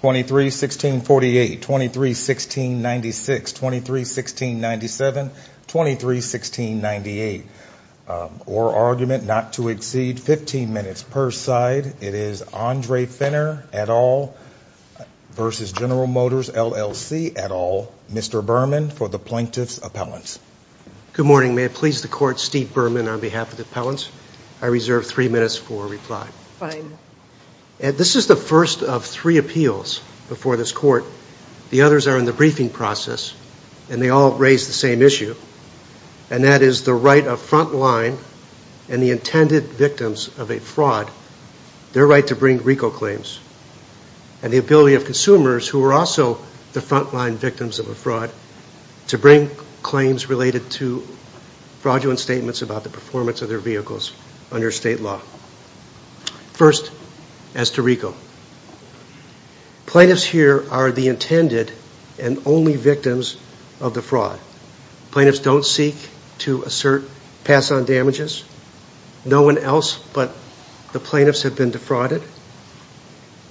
23 1648 23 1696 23 1697 23 1698 or argument not to exceed 15 minutes per side it is Andre Fenner et al versus General Motors LLC et al Mr. Berman for the plaintiffs appellants good morning may it please the court Steve Berman on behalf of the appellants I reserve three minutes for reply fine and this is the first of three appeals before this court the others are in the briefing process and they all raise the same issue and that is the right of frontline and the intended victims of a fraud their right to bring RICO claims and the ability of consumers who are also the frontline victims of a fraud to bring claims related to fraudulent statements about the performance of their vehicles under state law first as to RICO plaintiffs here are the intended and only victims of the fraud plaintiffs don't seek to assert pass on damages no one else but the plaintiffs have been defrauded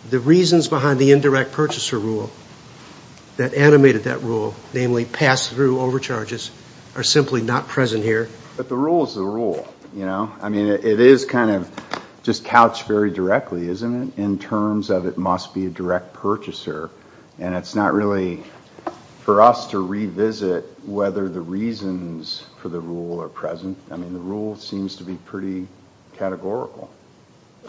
the reasons behind the indirect purchaser rule that animated that rule namely pass through overcharges are simply not present here but the rules the rule you know I mean it is kind of just couched very directly isn't it in terms of it must be a direct purchaser and it's not really for us to revisit whether the reasons for the rule are present I mean the rule seems to be pretty categorical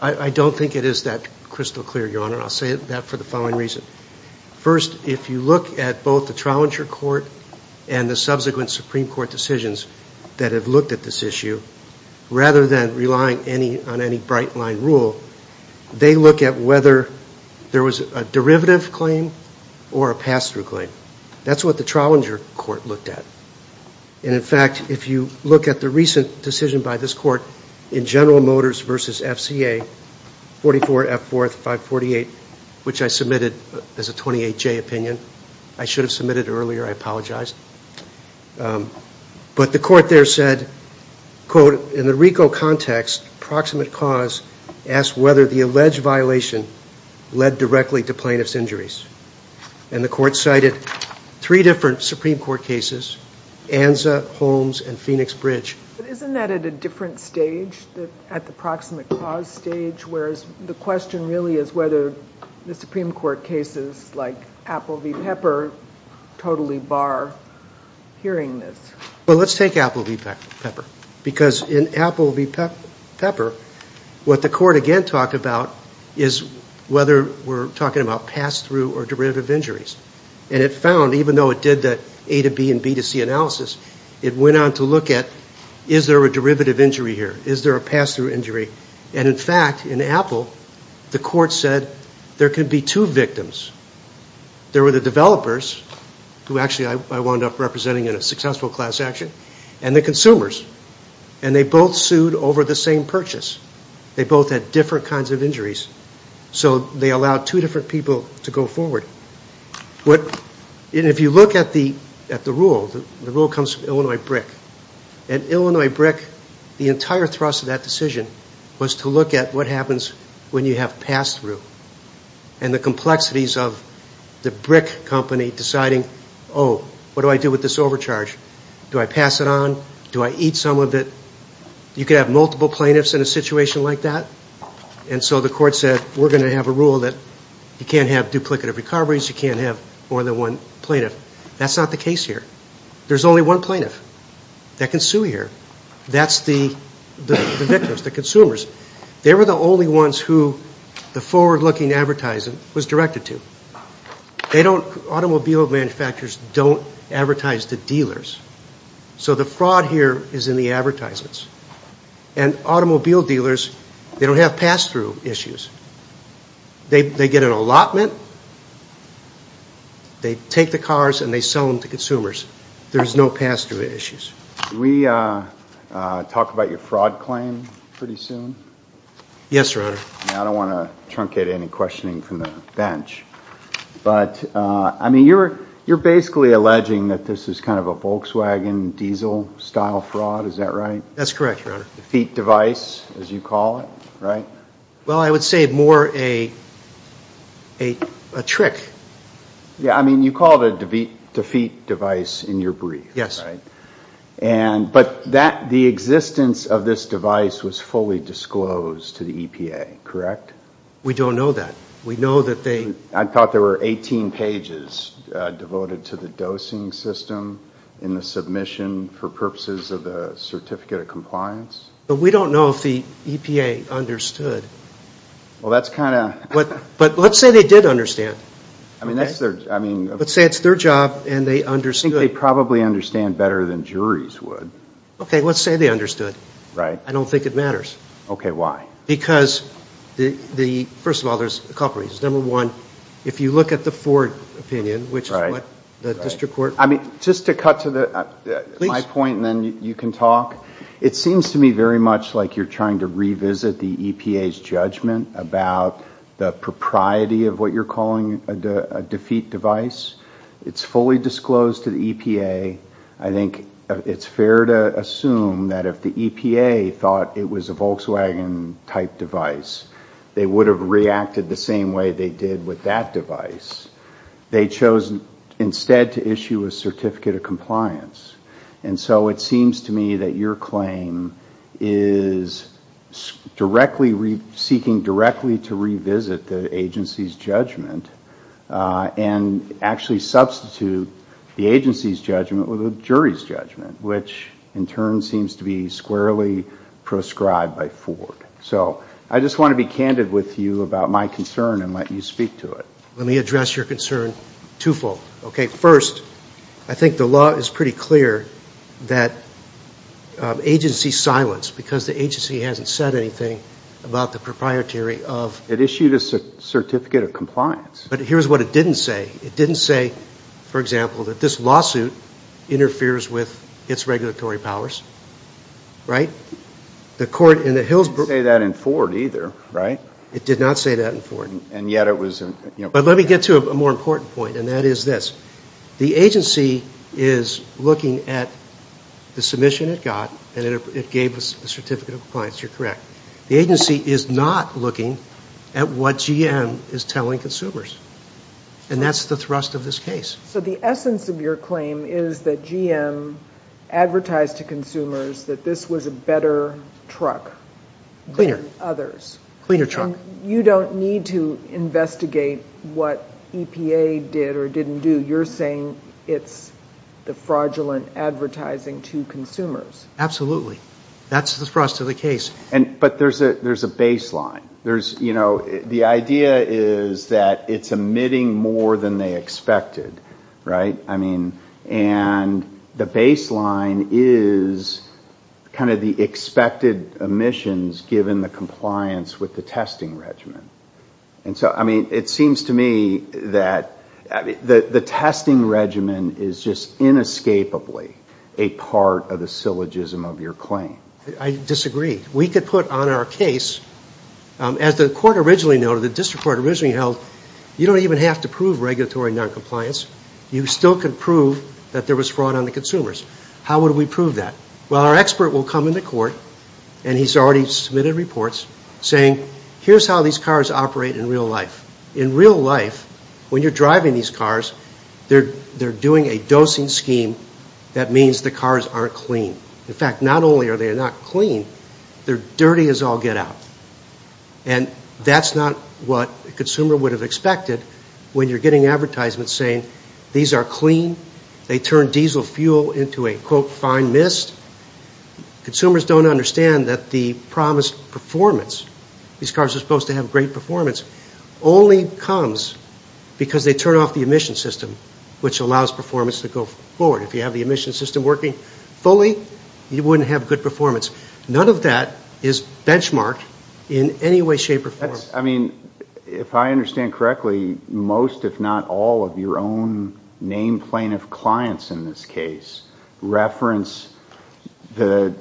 I don't think it is that crystal clear your honor I'll say that for the following reason first if you look at both the trial in your court and the subsequent Supreme Court decisions that have looked at this issue rather than relying any on any bright line rule they look at whether there was a derivative claim or a pass-through claim that's what the trial in your court looked at in fact if you look at the recent decision by this court in General Motors versus FCA 44 at 4548 which I submitted as a 28 J opinion I should have submitted earlier I apologize but the court there said quote in the Rico context proximate cause asked whether the alleged violation led directly to plaintiffs injuries and the court cited three different Supreme Court cases Anza Holmes and Phoenix bridge isn't that at a different stage that at the proximate clause stage whereas the question really is whether the Supreme Court cases like Apple V pepper totally bar hearing this well let's take Apple V pepper because in Apple V pepper what the court again talked about is whether we're talking about pass-through or derivative injuries and it found even though it did that a to B and B to C analysis it went on to look at is there a derivative injury here is there a pass-through injury and in fact in Apple the court said there could be two victims there were the developers who actually I wound up representing in a successful class action and the consumers and they both sued over the same purchase they both had different kinds of injuries so they allowed two different people to go forward what if you look at the at the rule the rule comes from Illinois brick and Illinois brick the entire thrust of that decision was to look at what happens when you have passed through and the complexities of the brick company deciding oh what do I do with this overcharge do I pass it on do I eat some of it you could have multiple plaintiffs in a situation like that and so the court said we're going to have a rule that you can't have duplicative recoveries you can't have more than one plaintiff that's not the case here there's only one plaintiff that can sue here that's the victims the consumers they were the only ones who the forward-looking advertising was directed to they don't automobile manufacturers don't advertise the dealers so the fraud here is in the advertisements and automobile dealers they don't have pass-through issues they get an allotment they take the cars and they sell them to consumers there's no pass-through issues we talk about your fraud claim pretty soon yes sir I don't want to truncate any questioning from the bench but I mean you're you're basically alleging that this is kind of a Volkswagen diesel style fraud is that right that's correct your feet device as you call it right well I would say more a a trick yeah I mean you call it a defeat defeat device in your brief yes right and but that the existence of this device was fully disclosed to the EPA correct we don't know that we know that they I thought there were 18 pages devoted to the dosing system in the submission for purposes of the certificate of compliance but we don't know if the EPA understood well that's kind of what but let's say they did understand I mean that's their I mean let's say it's their job and they understand they probably understand better than juries would okay let's say they understood right I don't think it matters okay why because the the first of all there's a couple reasons number one if you look at the Ford opinion which is right the district court I mean just to cut to the point and then you can talk it seems to me very much like you're trying to revisit the EPA's judgment about the propriety of what you're calling a defeat device it's fully disclosed to the EPA I think it's fair to assume that if the EPA thought it was a Volkswagen type device they would have reacted the same way they did with that device they chose instead to issue a certificate of compliance and so it seems to me that your claim is directly seeking directly to revisit the agency's judgment and actually substitute the agency's judgment with a jury's judgment which in turn seems to be squarely proscribed by Ford so I just want to be candid with you about my concern and let you speak to it let me address your concern twofold okay first I think the law is pretty clear that agency silence because the agency hasn't said anything about the proprietary of it issued a certificate of compliance but here's what it didn't say it didn't say for example that this lawsuit interferes with its regulatory powers right the court in the Hills say that in Ford either right it did not say that in Ford and yet it was you know but let me get to a more important point and that is this the agency is looking at the submission it got and it gave us a certificate of compliance you're correct the agency is not looking at what GM is telling consumers and that's the thrust of this case so the essence of your claim is that GM advertised to consumers that this was a better truck cleaner others cleaner truck you don't need to investigate what EPA did or didn't do you're saying it's the fraudulent advertising to consumers absolutely that's the thrust of the case and but there's a there's a baseline there's you know the idea is that it's emitting more than they expected right I mean and the baseline is kind of the expected emissions given the compliance with the testing regimen and so I mean it seems to me that the the testing regimen is just inescapably a part of the syllogism of your claim I disagree we could put on our case as the court originally noted the district court originally held you don't even have to prove regulatory non-compliance you still can prove that there was fraud on the consumers how would we prove that well our expert will come into court and he's already submitted reports saying here's how these cars operate in real life in real life when you're driving these cars they're they're doing a dosing scheme that means the cars aren't clean in fact not only are they are not clean they're dirty as all get out and that's not what the consumer would have expected when you're getting advertisements saying these are clean they turn diesel fuel into a quote fine mist consumers don't understand that the promised performance these cars are supposed to have great performance only comes because they turn off the emission system which allows performance to go forward if you have the emission system working fully you wouldn't have good performance none of that is benchmarked in any way shape or I mean if I understand correctly most if not all of your own name plaintiff clients in this case reference the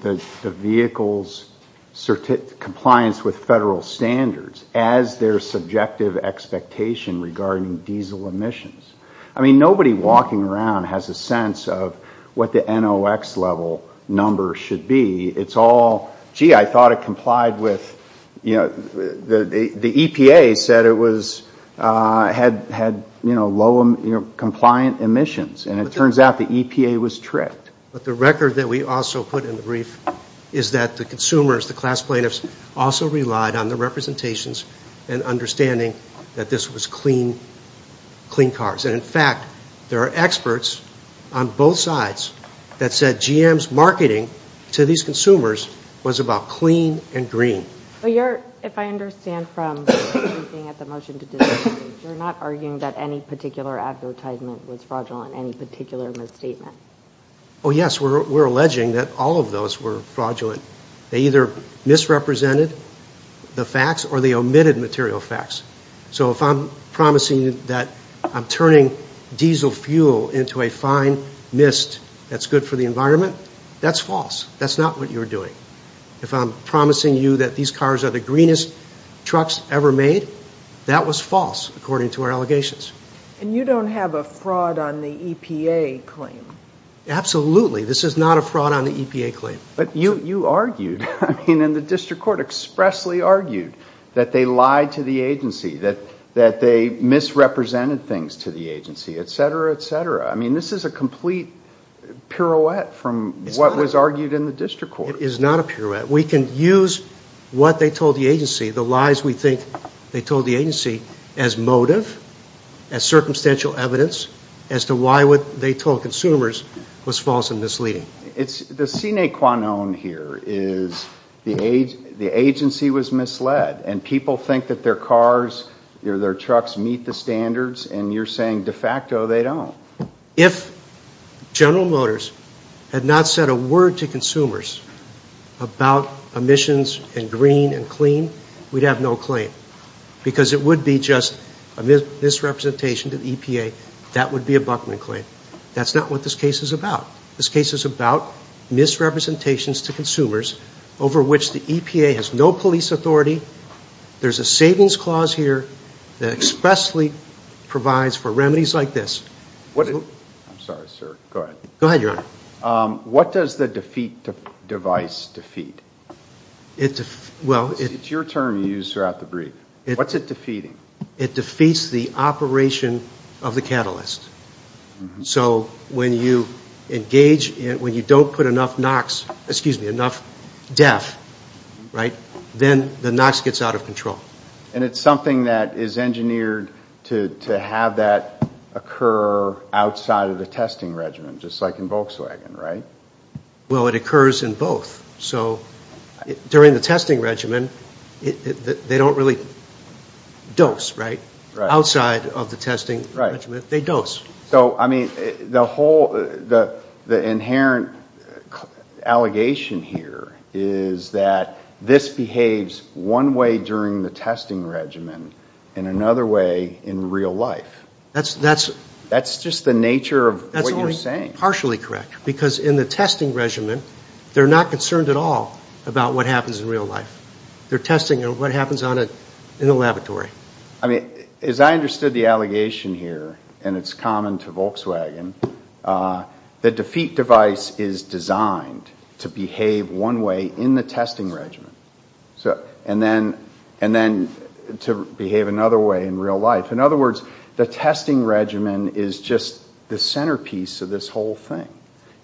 the vehicle's certificate compliance with federal standards as their subjective expectation regarding diesel emissions I mean nobody walking around has a sense of what the NOX level number should be it's all gee I thought it complied with you know the the EPA said it was had had you know low compliant emissions and it turns out the EPA was tricked but the record that we also put in the brief is that the consumers the class plaintiffs also relied on the representations and understanding that this was clean clean cars and in fact there are experts on both sides that said GM's marketing to these consumers was about clean and green you're not arguing that any particular advertisement was fraudulent any particular misstatement oh yes we're alleging that all of those were fraudulent they either misrepresented the facts or the omitted material facts so if I'm promising that I'm turning diesel fuel into a fine mist that's good for the environment that's false that's not what you're doing if I'm promising you that these cars are the greenest trucks ever made that was false according to our allegations and you don't have a fraud on the EPA claim absolutely this is not a fraud on the EPA claim but you you argued I mean in the district court expressly argued that they lied to the agency that that they misrepresented things to the agency etc etc I mean this is a complete pirouette from what was argued in the district court it is not a pirouette we can use what they told the agency the lies we think they told the agency as motive as circumstantial evidence as to why would they told consumers was false and misleading it's the sine qua non here is the age the agency was misled and people think that their cars or their trucks meet the standards and you're saying de facto they don't if General Motors had not said a word to consumers about emissions and green and clean we'd have no claim because it would be just a misrepresentation to the EPA that would be a Buckman claim that's not what this case is about this case is about misrepresentations to consumers over which the EPA has no police authority there's a savings clause here that expressly provides for remedies like this what I'm sorry sir go ahead go ahead your what does the defeat device defeat it well it's your term you use throughout the brief it what's it defeating it defeats the operation of the catalyst so when you engage it when you don't put enough knocks excuse me enough death right then the knocks gets out of control and it's something that is engineered to have that occur outside of the testing regimen just like in Volkswagen right well it occurs in both so during the testing regimen they don't really dose right right outside of the allegation here is that this behaves one way during the testing regimen in another way in real life that's that's that's just the nature of that's only partially correct because in the testing regimen they're not concerned at all about what happens in real life they're testing and what happens on it in the laboratory I mean as I understood the allegation here and it's common to Volkswagen the defeat device is designed to behave one way in the testing regimen so and then and then to behave another way in real life in other words the testing regimen is just the centerpiece of this whole thing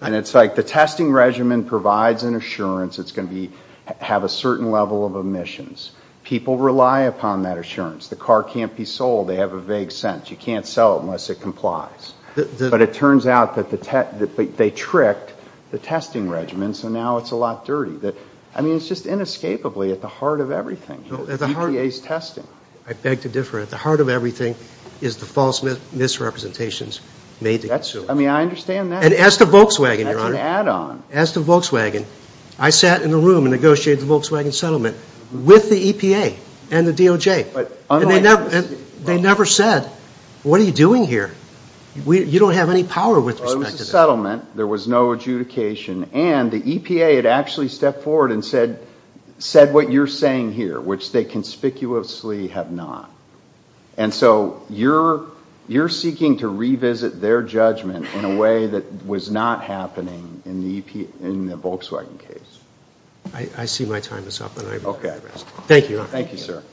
and it's like the testing regimen provides an assurance it's going to be have a certain level of emissions people rely upon that assurance the car can't be sold they have a vague sense you can't they tricked the testing regimen so now it's a lot dirty that I mean it's just inescapably at the heart of everything I beg to differ at the heart of everything is the false misrepresentations made that's I mean I understand that and as the Volkswagen add-on as the Volkswagen I sat in the room and negotiated the Volkswagen settlement with the EPA and the DOJ but they never said what are you doing here we don't have any power with settlement there was no adjudication and the EPA had actually stepped forward and said said what you're saying here which they conspicuously have not and so you're you're seeking to revisit their judgment in a way that was not happening in the Volkswagen case I see my time is up thank you thank you sir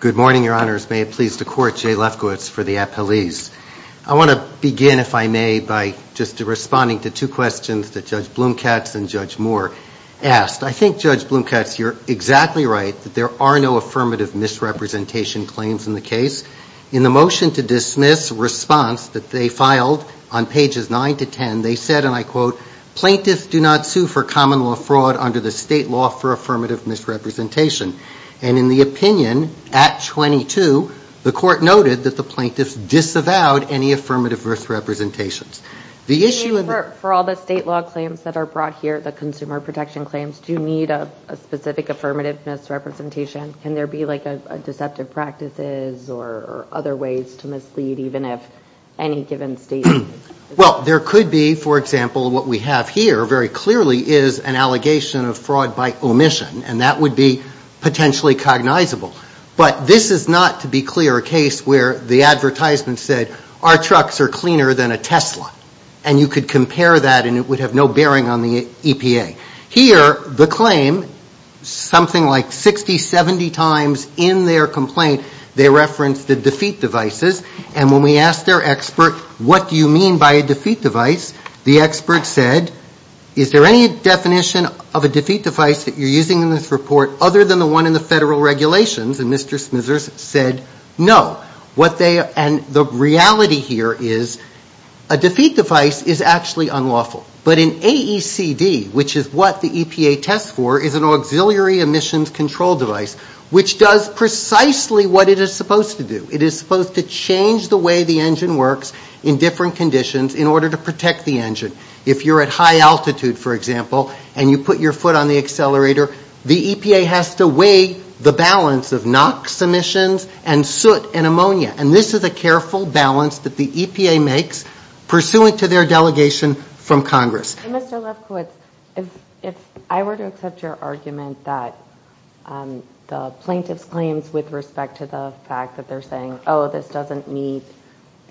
good morning your honors may it please the court J Lefkowitz for the appellees I want to begin if I may by just responding to two questions that judge Bloom Katz and judge Moore asked I think judge Bloom Katz you're exactly right that there are no affirmative misrepresentation claims in the case in the motion to dismiss response that they filed on pages 9 to 10 they said and I quote plaintiffs do not sue for common law fraud under the state law for affirmative misrepresentation and in the opinion at 22 the court noted that the plaintiffs disavowed any affirmative misrepresentations the issue for all the state law claims that are brought here the consumer protection claims do need a specific affirmative misrepresentation can there be like a deceptive practices or other ways to mislead even if any well there could be for example what we have here very clearly is an allegation of fraud by omission and that would be potentially cognizable but this is not to be clear a case where the advertisement said our trucks are cleaner than a Tesla and you could compare that and it would have no bearing on the EPA here the claim something like 60 70 times in their complaint they referenced the defeat devices and when we asked their expert what do you mean by a defeat device the expert said is there any definition of a defeat device that you're using in this report other than the one in the federal regulations and Mr. Smithers said no what they are and the reality here is a defeat device is actually unlawful but in AECD which is what the EPA test for is an auxiliary emissions control device which does precisely what it is supposed to do it is supposed to change the way the engine works in different conditions in order to protect the engine if you're at high altitude for example and you put your foot on the accelerator the EPA has to weigh the balance of NOx emissions and soot and ammonia and this is a careful balance that the EPA makes pursuant to their delegation from Congress if I were to accept your argument that the plaintiffs claims with respect to the fact that they're saying oh this doesn't meet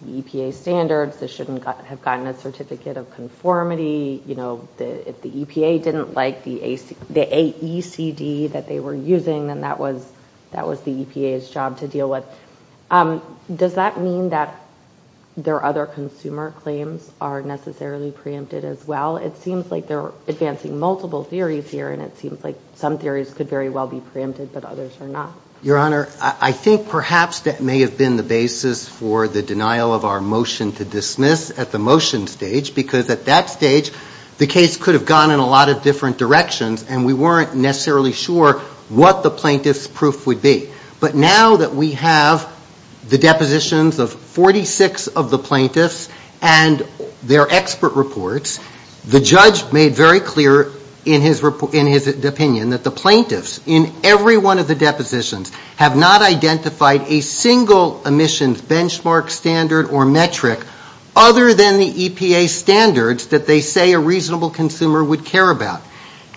the EPA standards this shouldn't have gotten a certificate of conformity you know if the EPA didn't like the AECD that they were using then that was that was the EPA's job to deal with does that mean that their other consumer claims are necessarily preempted as well it seems like they're advancing multiple theories here and it seems like some theories could very well be preempted but others are not your honor I think perhaps that may have been the basis for the denial of our motion to dismiss at the motion stage because at that stage the case could have gone in a lot of different directions and we weren't necessarily sure what the plaintiffs proof would be but now that we have the depositions of 46 of the plaintiffs and their expert reports the judge made very clear in his opinion that the plaintiffs in every one of the depositions have not identified a single emissions benchmark standard or metric other than the EPA standards that they say a reasonable consumer would care about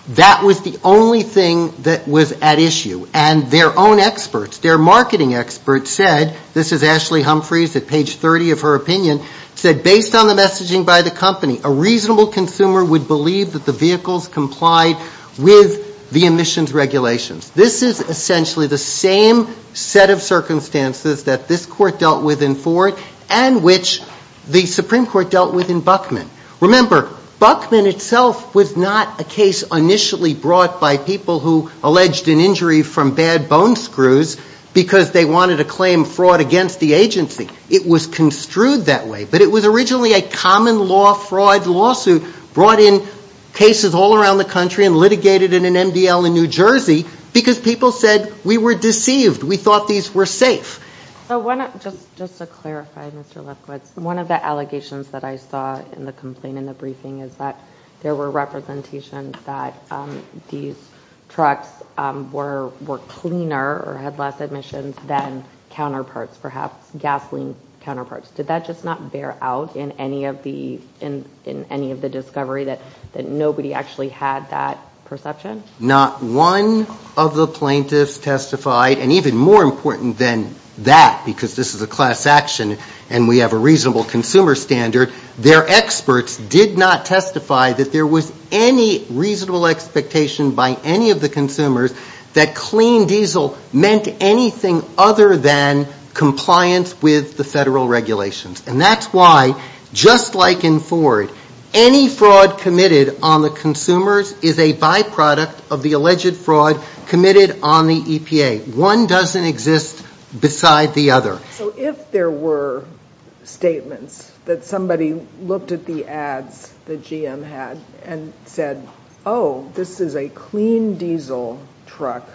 that was the only thing that was at issue and their own experts their marketing experts said this is Ashley Humphries at page 30 of her opinion said based on the messaging by the company a reasonable consumer would believe that the vehicles complied with the emissions regulations this is essentially the same set of circumstances that this court dealt with in Ford and which the Supreme Court dealt with in Buckman remember Buckman itself was not a case initially brought by people who alleged an injury from bad bone screws because they wanted to claim fraud against the agency it was construed that way but it was originally a common-law fraud lawsuit brought in cases all around the country and litigated in an MDL in New Jersey because people said we were deceived we thought these were safe one of the allegations that I saw in the complaint in the briefing is that there were representations that these trucks were cleaner or had less emissions than counterparts perhaps gasoline counterparts did that just not bear out in any of the in in any of the discovery that that nobody actually had that perception not one of the plaintiffs testified and even more important than that because this is a class action and we have a reasonable consumer standard their experts did not testify that there was any reasonable expectation by any of the consumers that clean diesel meant anything other than compliance with the federal regulations and that's why just like in Ford any fraud committed on the consumers is a byproduct of the alleged fraud committed on the EPA one doesn't exist beside the other if there were statements that somebody looked at the ads the GM had and said oh this is a clean diesel truck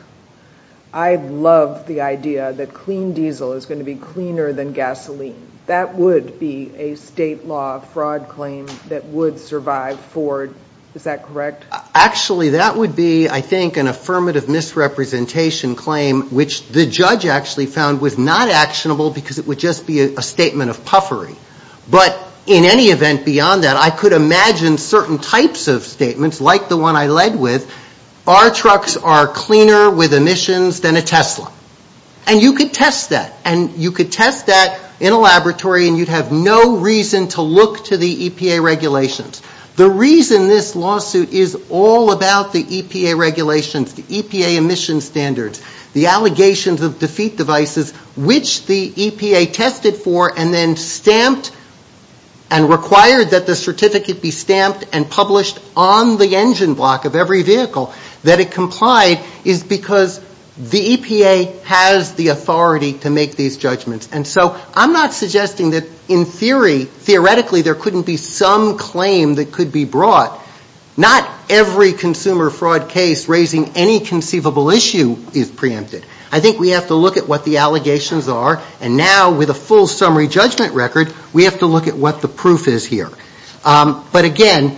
I love the idea that clean diesel is going to be cleaner than gasoline that would be a state law fraud claim that would survive Ford is that correct actually that would be I think an affirmative misrepresentation claim which the judge actually found was not actionable because it would just be a statement of puffery but in any event beyond that I could imagine certain types of statements like the one I led with our trucks are cleaner with emissions than a Tesla and you could test that and you could test that in a laboratory and you have no reason to look to the EPA regulations the reason this lawsuit is all about the EPA regulations the EPA emissions standards the allegations of defeat devices which the EPA tested for and then stamped and required that the certificate be stamped and published on the engine block of every vehicle that it complied is because the EPA has the authority to make these judgments and so I'm not suggesting that in theory theoretically there couldn't be some claim that could be brought not every consumer fraud case raising any conceivable issue is preempted I think we have to look at what the allegations are and now with a full summary judgment record we have to look at what the proof is here but again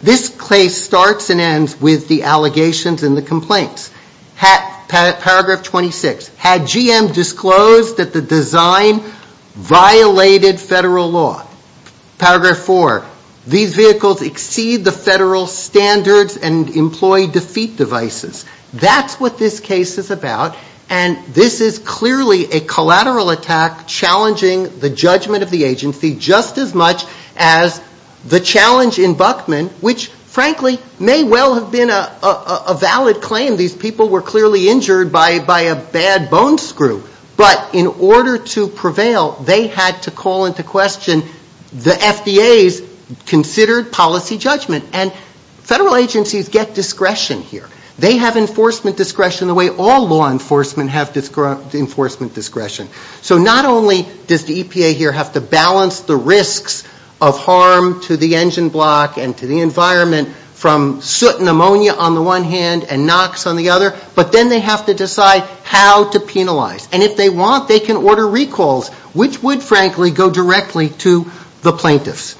this case starts and ends with the allegations and the complaints paragraph 26 had GM disclosed that the design violated federal law paragraph 4 these vehicles exceed the federal standards and employ defeat devices that's what this case is about and this is clearly a collateral attack challenging the judgment of the agency just as much as the challenge in Buckman which frankly may well have been a valid claim these people were clearly injured by by a bad bone screw but in order to prevail they had to call into question the FDA's considered policy judgment and federal agencies get discretion here they have enforcement discretion the way all law enforcement have disgruntled enforcement discretion so not only does the EPA here have to balance the risks of harm to the engine block and to the environment from certain ammonia on the one hand and knocks on the other but then they have to decide how to penalize and if they want they can order recalls which would frankly go directly to the plaintiffs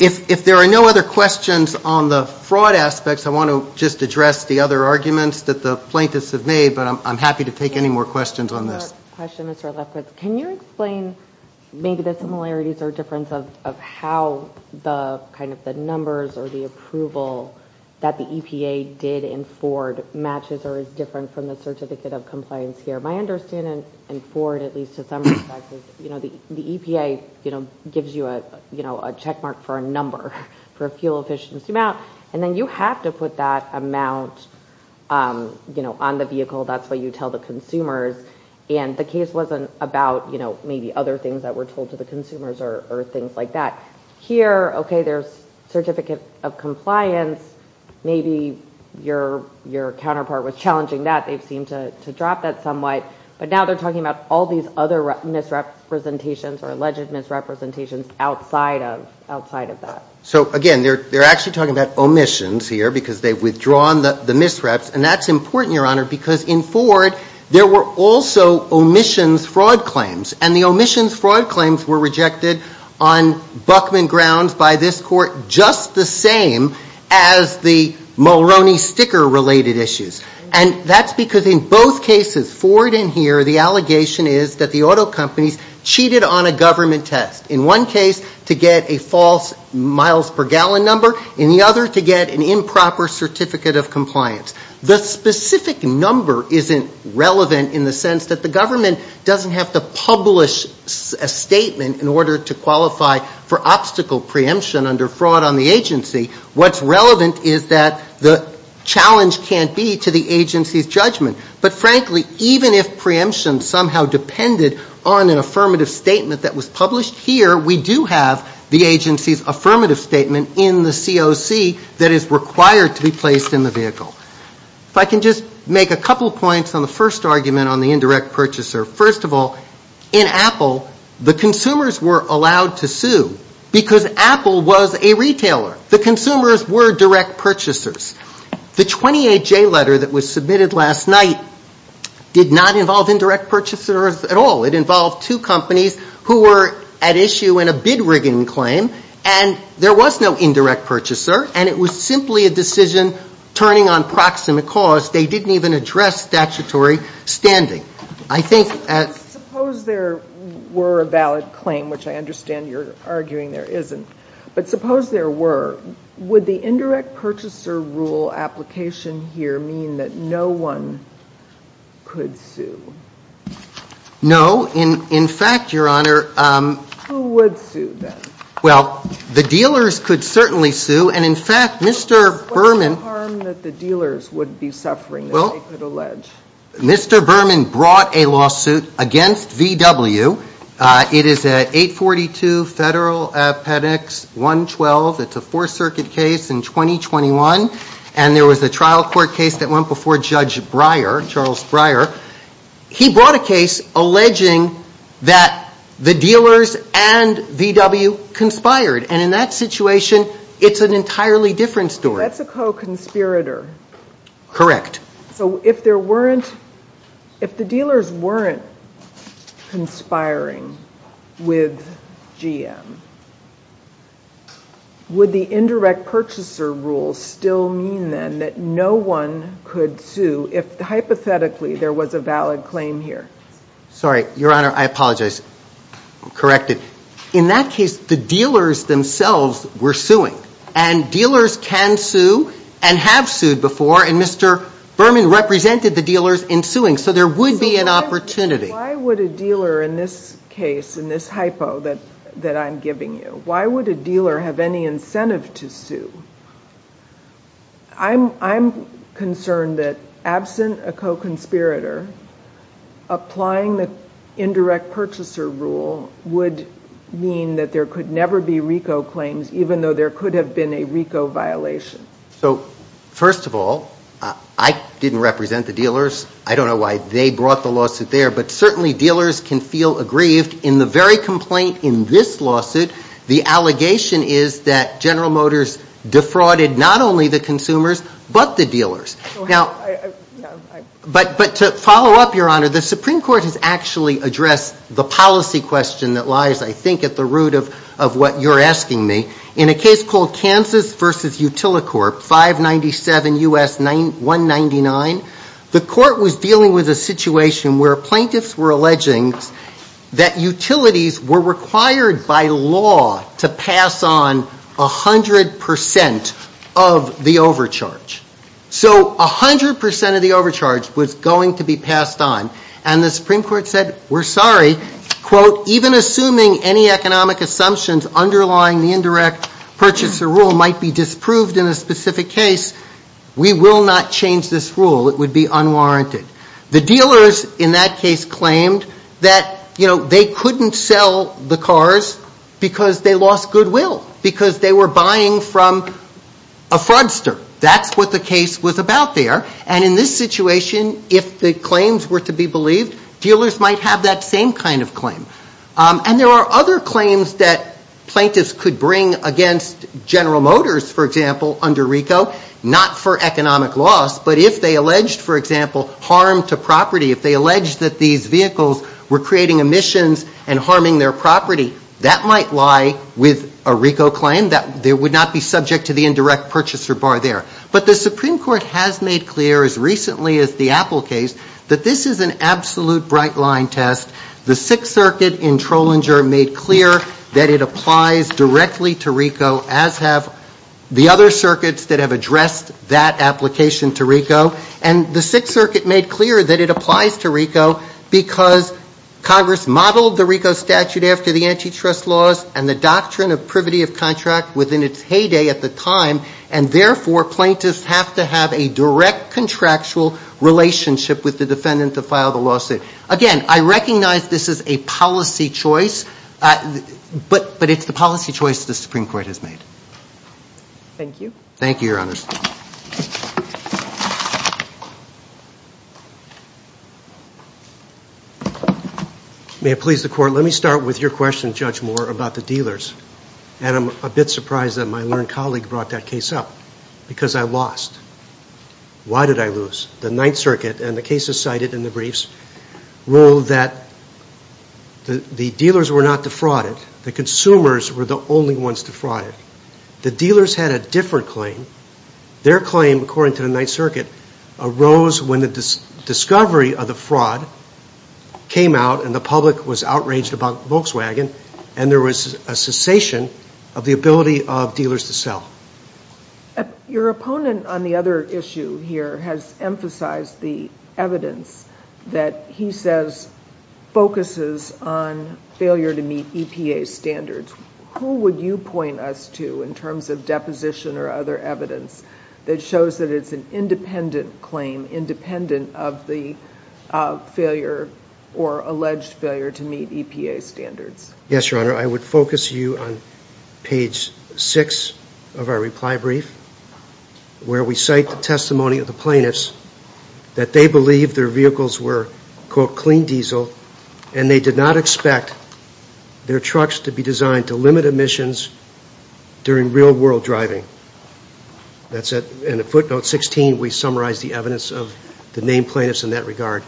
if there are no other questions on the fraud aspects I want to just address the other arguments that the plaintiffs have made but I'm happy to take any more questions on this question is for that but can you explain maybe the similarities or difference of how the kind of the numbers or the approval that the EPA did in Ford matches or is different from the certificate of compliance here my understanding and Ford at least to some you know the EPA you know gives you a you know a check mark for a number for a fuel efficiency amount and then you have to put that amount you know on the vehicle that's what you tell the consumers and the case wasn't about you know maybe other things that were told to the consumers or things like that here okay there's certificate of compliance maybe your your counterpart was challenging that they've seemed to drop that somewhat but now they're talking about all these other misrepresentations or alleged misrepresentations outside of outside of that so again they're they're actually talking about omissions here because they've withdrawn the the misreps and that's important your honor because in Ford there were also omissions fraud claims and the omissions fraud claims were rejected on Buckman grounds by this court just the same as the Mulroney sticker related issues and that's because in both cases Ford in here the allegation is that the auto companies cheated on a government test in one case to get a false miles per gallon number in the other to get an improper certificate of compliance the specific number isn't relevant in the sense that the government doesn't have to publish a statement in order to qualify for obstacle preemption under fraud on the agency what's relevant is that the challenge can't be to the agency's judgment but frankly even if preemption somehow depended on an affirmative statement that was published here we do have the agency's affirmative statement in the COC that is required to be placed in the vehicle if I can just make a couple points on the first argument on the indirect purchaser first of all in Apple the consumers were allowed to sue because Apple was a retailer the consumers were direct purchasers the 28 J letter that was submitted last night did not involve indirect purchasers at all it involved two companies who were at issue in a bid rigging claim and there was no indirect purchaser and it was simply a decision turning on proximate cause they didn't even address statutory standing I think there were a valid claim which I understand you're arguing there isn't but suppose there were would the indirect purchaser rule application here mean that no one could sue no in in fact your honor well the dealers could certainly sue and in fact mr. Berman that the dealers would be suffering well the ledge mr. Berman brought a lawsuit against VW it is at 842 federal appendix 112 it's a four-circuit case in 2021 and there was a trial court case that went before judge Breyer Charles Breyer he brought a case alleging that the dealers and VW conspired and in that situation it's an entirely different story that's a co-conspirator correct so if there if the dealers weren't conspiring with GM would the indirect purchaser rule still mean then that no one could sue if hypothetically there was a valid claim here sorry your honor I apologize I'm corrected in that case the dealers themselves were suing and dealers can sue and have sued before and mr. Berman represented the dealers in suing so there would be an opportunity why would a dealer in this case in this hypo that that I'm giving you why would a dealer have any incentive to sue I'm I'm concerned that absent a co-conspirator applying the indirect purchaser rule would mean that there could never be Rico claims even though there could have been a Rico violation so first of all I didn't represent the dealers I don't know why they brought the lawsuit there but certainly dealers can feel aggrieved in the very complaint in this lawsuit the allegation is that General Motors defrauded not only the consumers but the dealers now but but to follow up your honor the Supreme Court has actually addressed the policy question that lies I think at the root of of what you're asking me in a case called Kansas versus Utilicorp 597 US 9199 the court was dealing with a situation where plaintiffs were alleging that utilities were required by law to pass on a hundred percent of the overcharge so a hundred percent of the overcharge was going to be passed on and the Supreme any economic assumptions underlying the indirect purchaser rule might be disproved in a specific case we will not change this rule it would be unwarranted the dealers in that case claimed that you know they couldn't sell the cars because they lost goodwill because they were buying from a fraudster that's what the case was about there and in this situation if the claims were to be dealers might have that same kind of claim and there are other claims that plaintiffs could bring against General Motors for example under RICO not for economic loss but if they alleged for example harm to property if they alleged that these vehicles were creating emissions and harming their property that might lie with a RICO claim that there would not be subject to the indirect purchaser bar there but the Supreme Court has made clear as recently as the Apple case that this is an absolute bright-line test the Sixth Circuit in Trollinger made clear that it applies directly to RICO as have the other circuits that have addressed that application to RICO and the Sixth Circuit made clear that it applies to RICO because Congress modeled the RICO statute after the antitrust laws and the doctrine of privity of contract within its heyday at the time and therefore plaintiffs have to have a direct contractual relationship with the defendant to file the lawsuit again I recognize this is a policy choice but but it's the policy choice the Supreme Court has made thank you thank you your honor may it please the court let me start with your question judge more about the dealers and I'm a bit surprised that my learned colleague brought that case up because I lost why did I lose the Ninth Circuit and the cases cited in the briefs rule that the the dealers were not defrauded the consumers were the only ones defrauded the dealers had a different claim their claim according to the Ninth Circuit arose when the discovery of the fraud came out and the public was outraged about Volkswagen and there was a cessation of the ability of dealers to sell your opponent on the other issue here has emphasized the evidence that he says focuses on failure to meet EPA standards who would you point us to in terms of deposition or other evidence that shows that it's an independent claim independent of the failure or alleged failure to meet EPA standards yes your honor I would focus you on page 6 of our reply brief where we cite the testimony of the plaintiffs that they believe their vehicles were quote clean diesel and they did not expect their trucks to be designed to limit emissions during real-world driving that's it in a footnote 16 we summarize the evidence of the name plaintiffs in that regard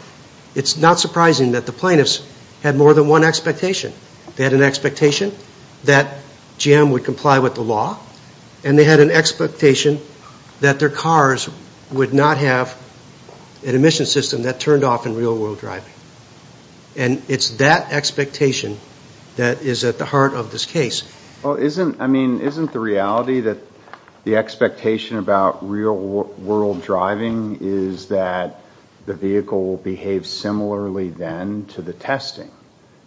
it's not surprising that the plaintiffs had more than one expectation that an expectation that Jim would comply with the law and they had an expectation that their cars would not have an emission system that turned off in real-world driving and it's that expectation that is at the heart of this case isn't I mean isn't the reality that the expectation about real-world driving is that the vehicle behaves similarly then to the testing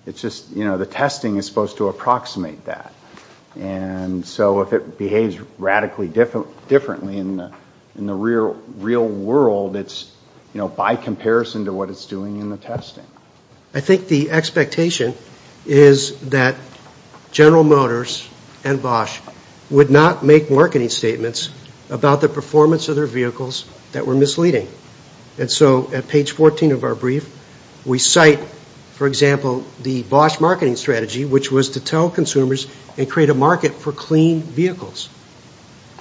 it's just you know the testing is supposed to approximate that and so if it behaves radically different differently in the in the real real world it's you know by comparison to what it's doing in the testing I think the expectation is that General Motors and Bosch would not make marketing statements about the performance of their vehicles that were misleading and so at page 14 of our brief we cite for example the Bosch marketing strategy which was to tell consumers and create a market for clean vehicles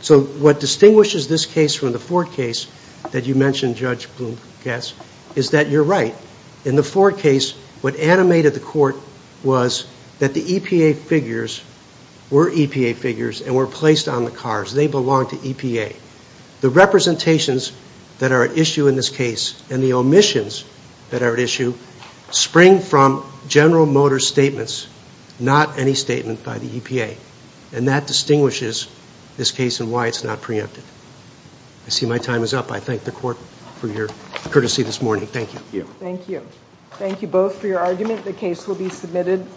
so what distinguishes this case from the Ford case that you mentioned Judge Blomkast is that you're right in the Ford case what animated the court was that the EPA figures were EPA the representations that are at issue in this case and the omissions that are at issue spring from General Motors statements not any statement by the EPA and that distinguishes this case and why it's not preempted I see my time is up I thank the court for your courtesy this morning thank you thank you thank you both for your argument the case will be submitted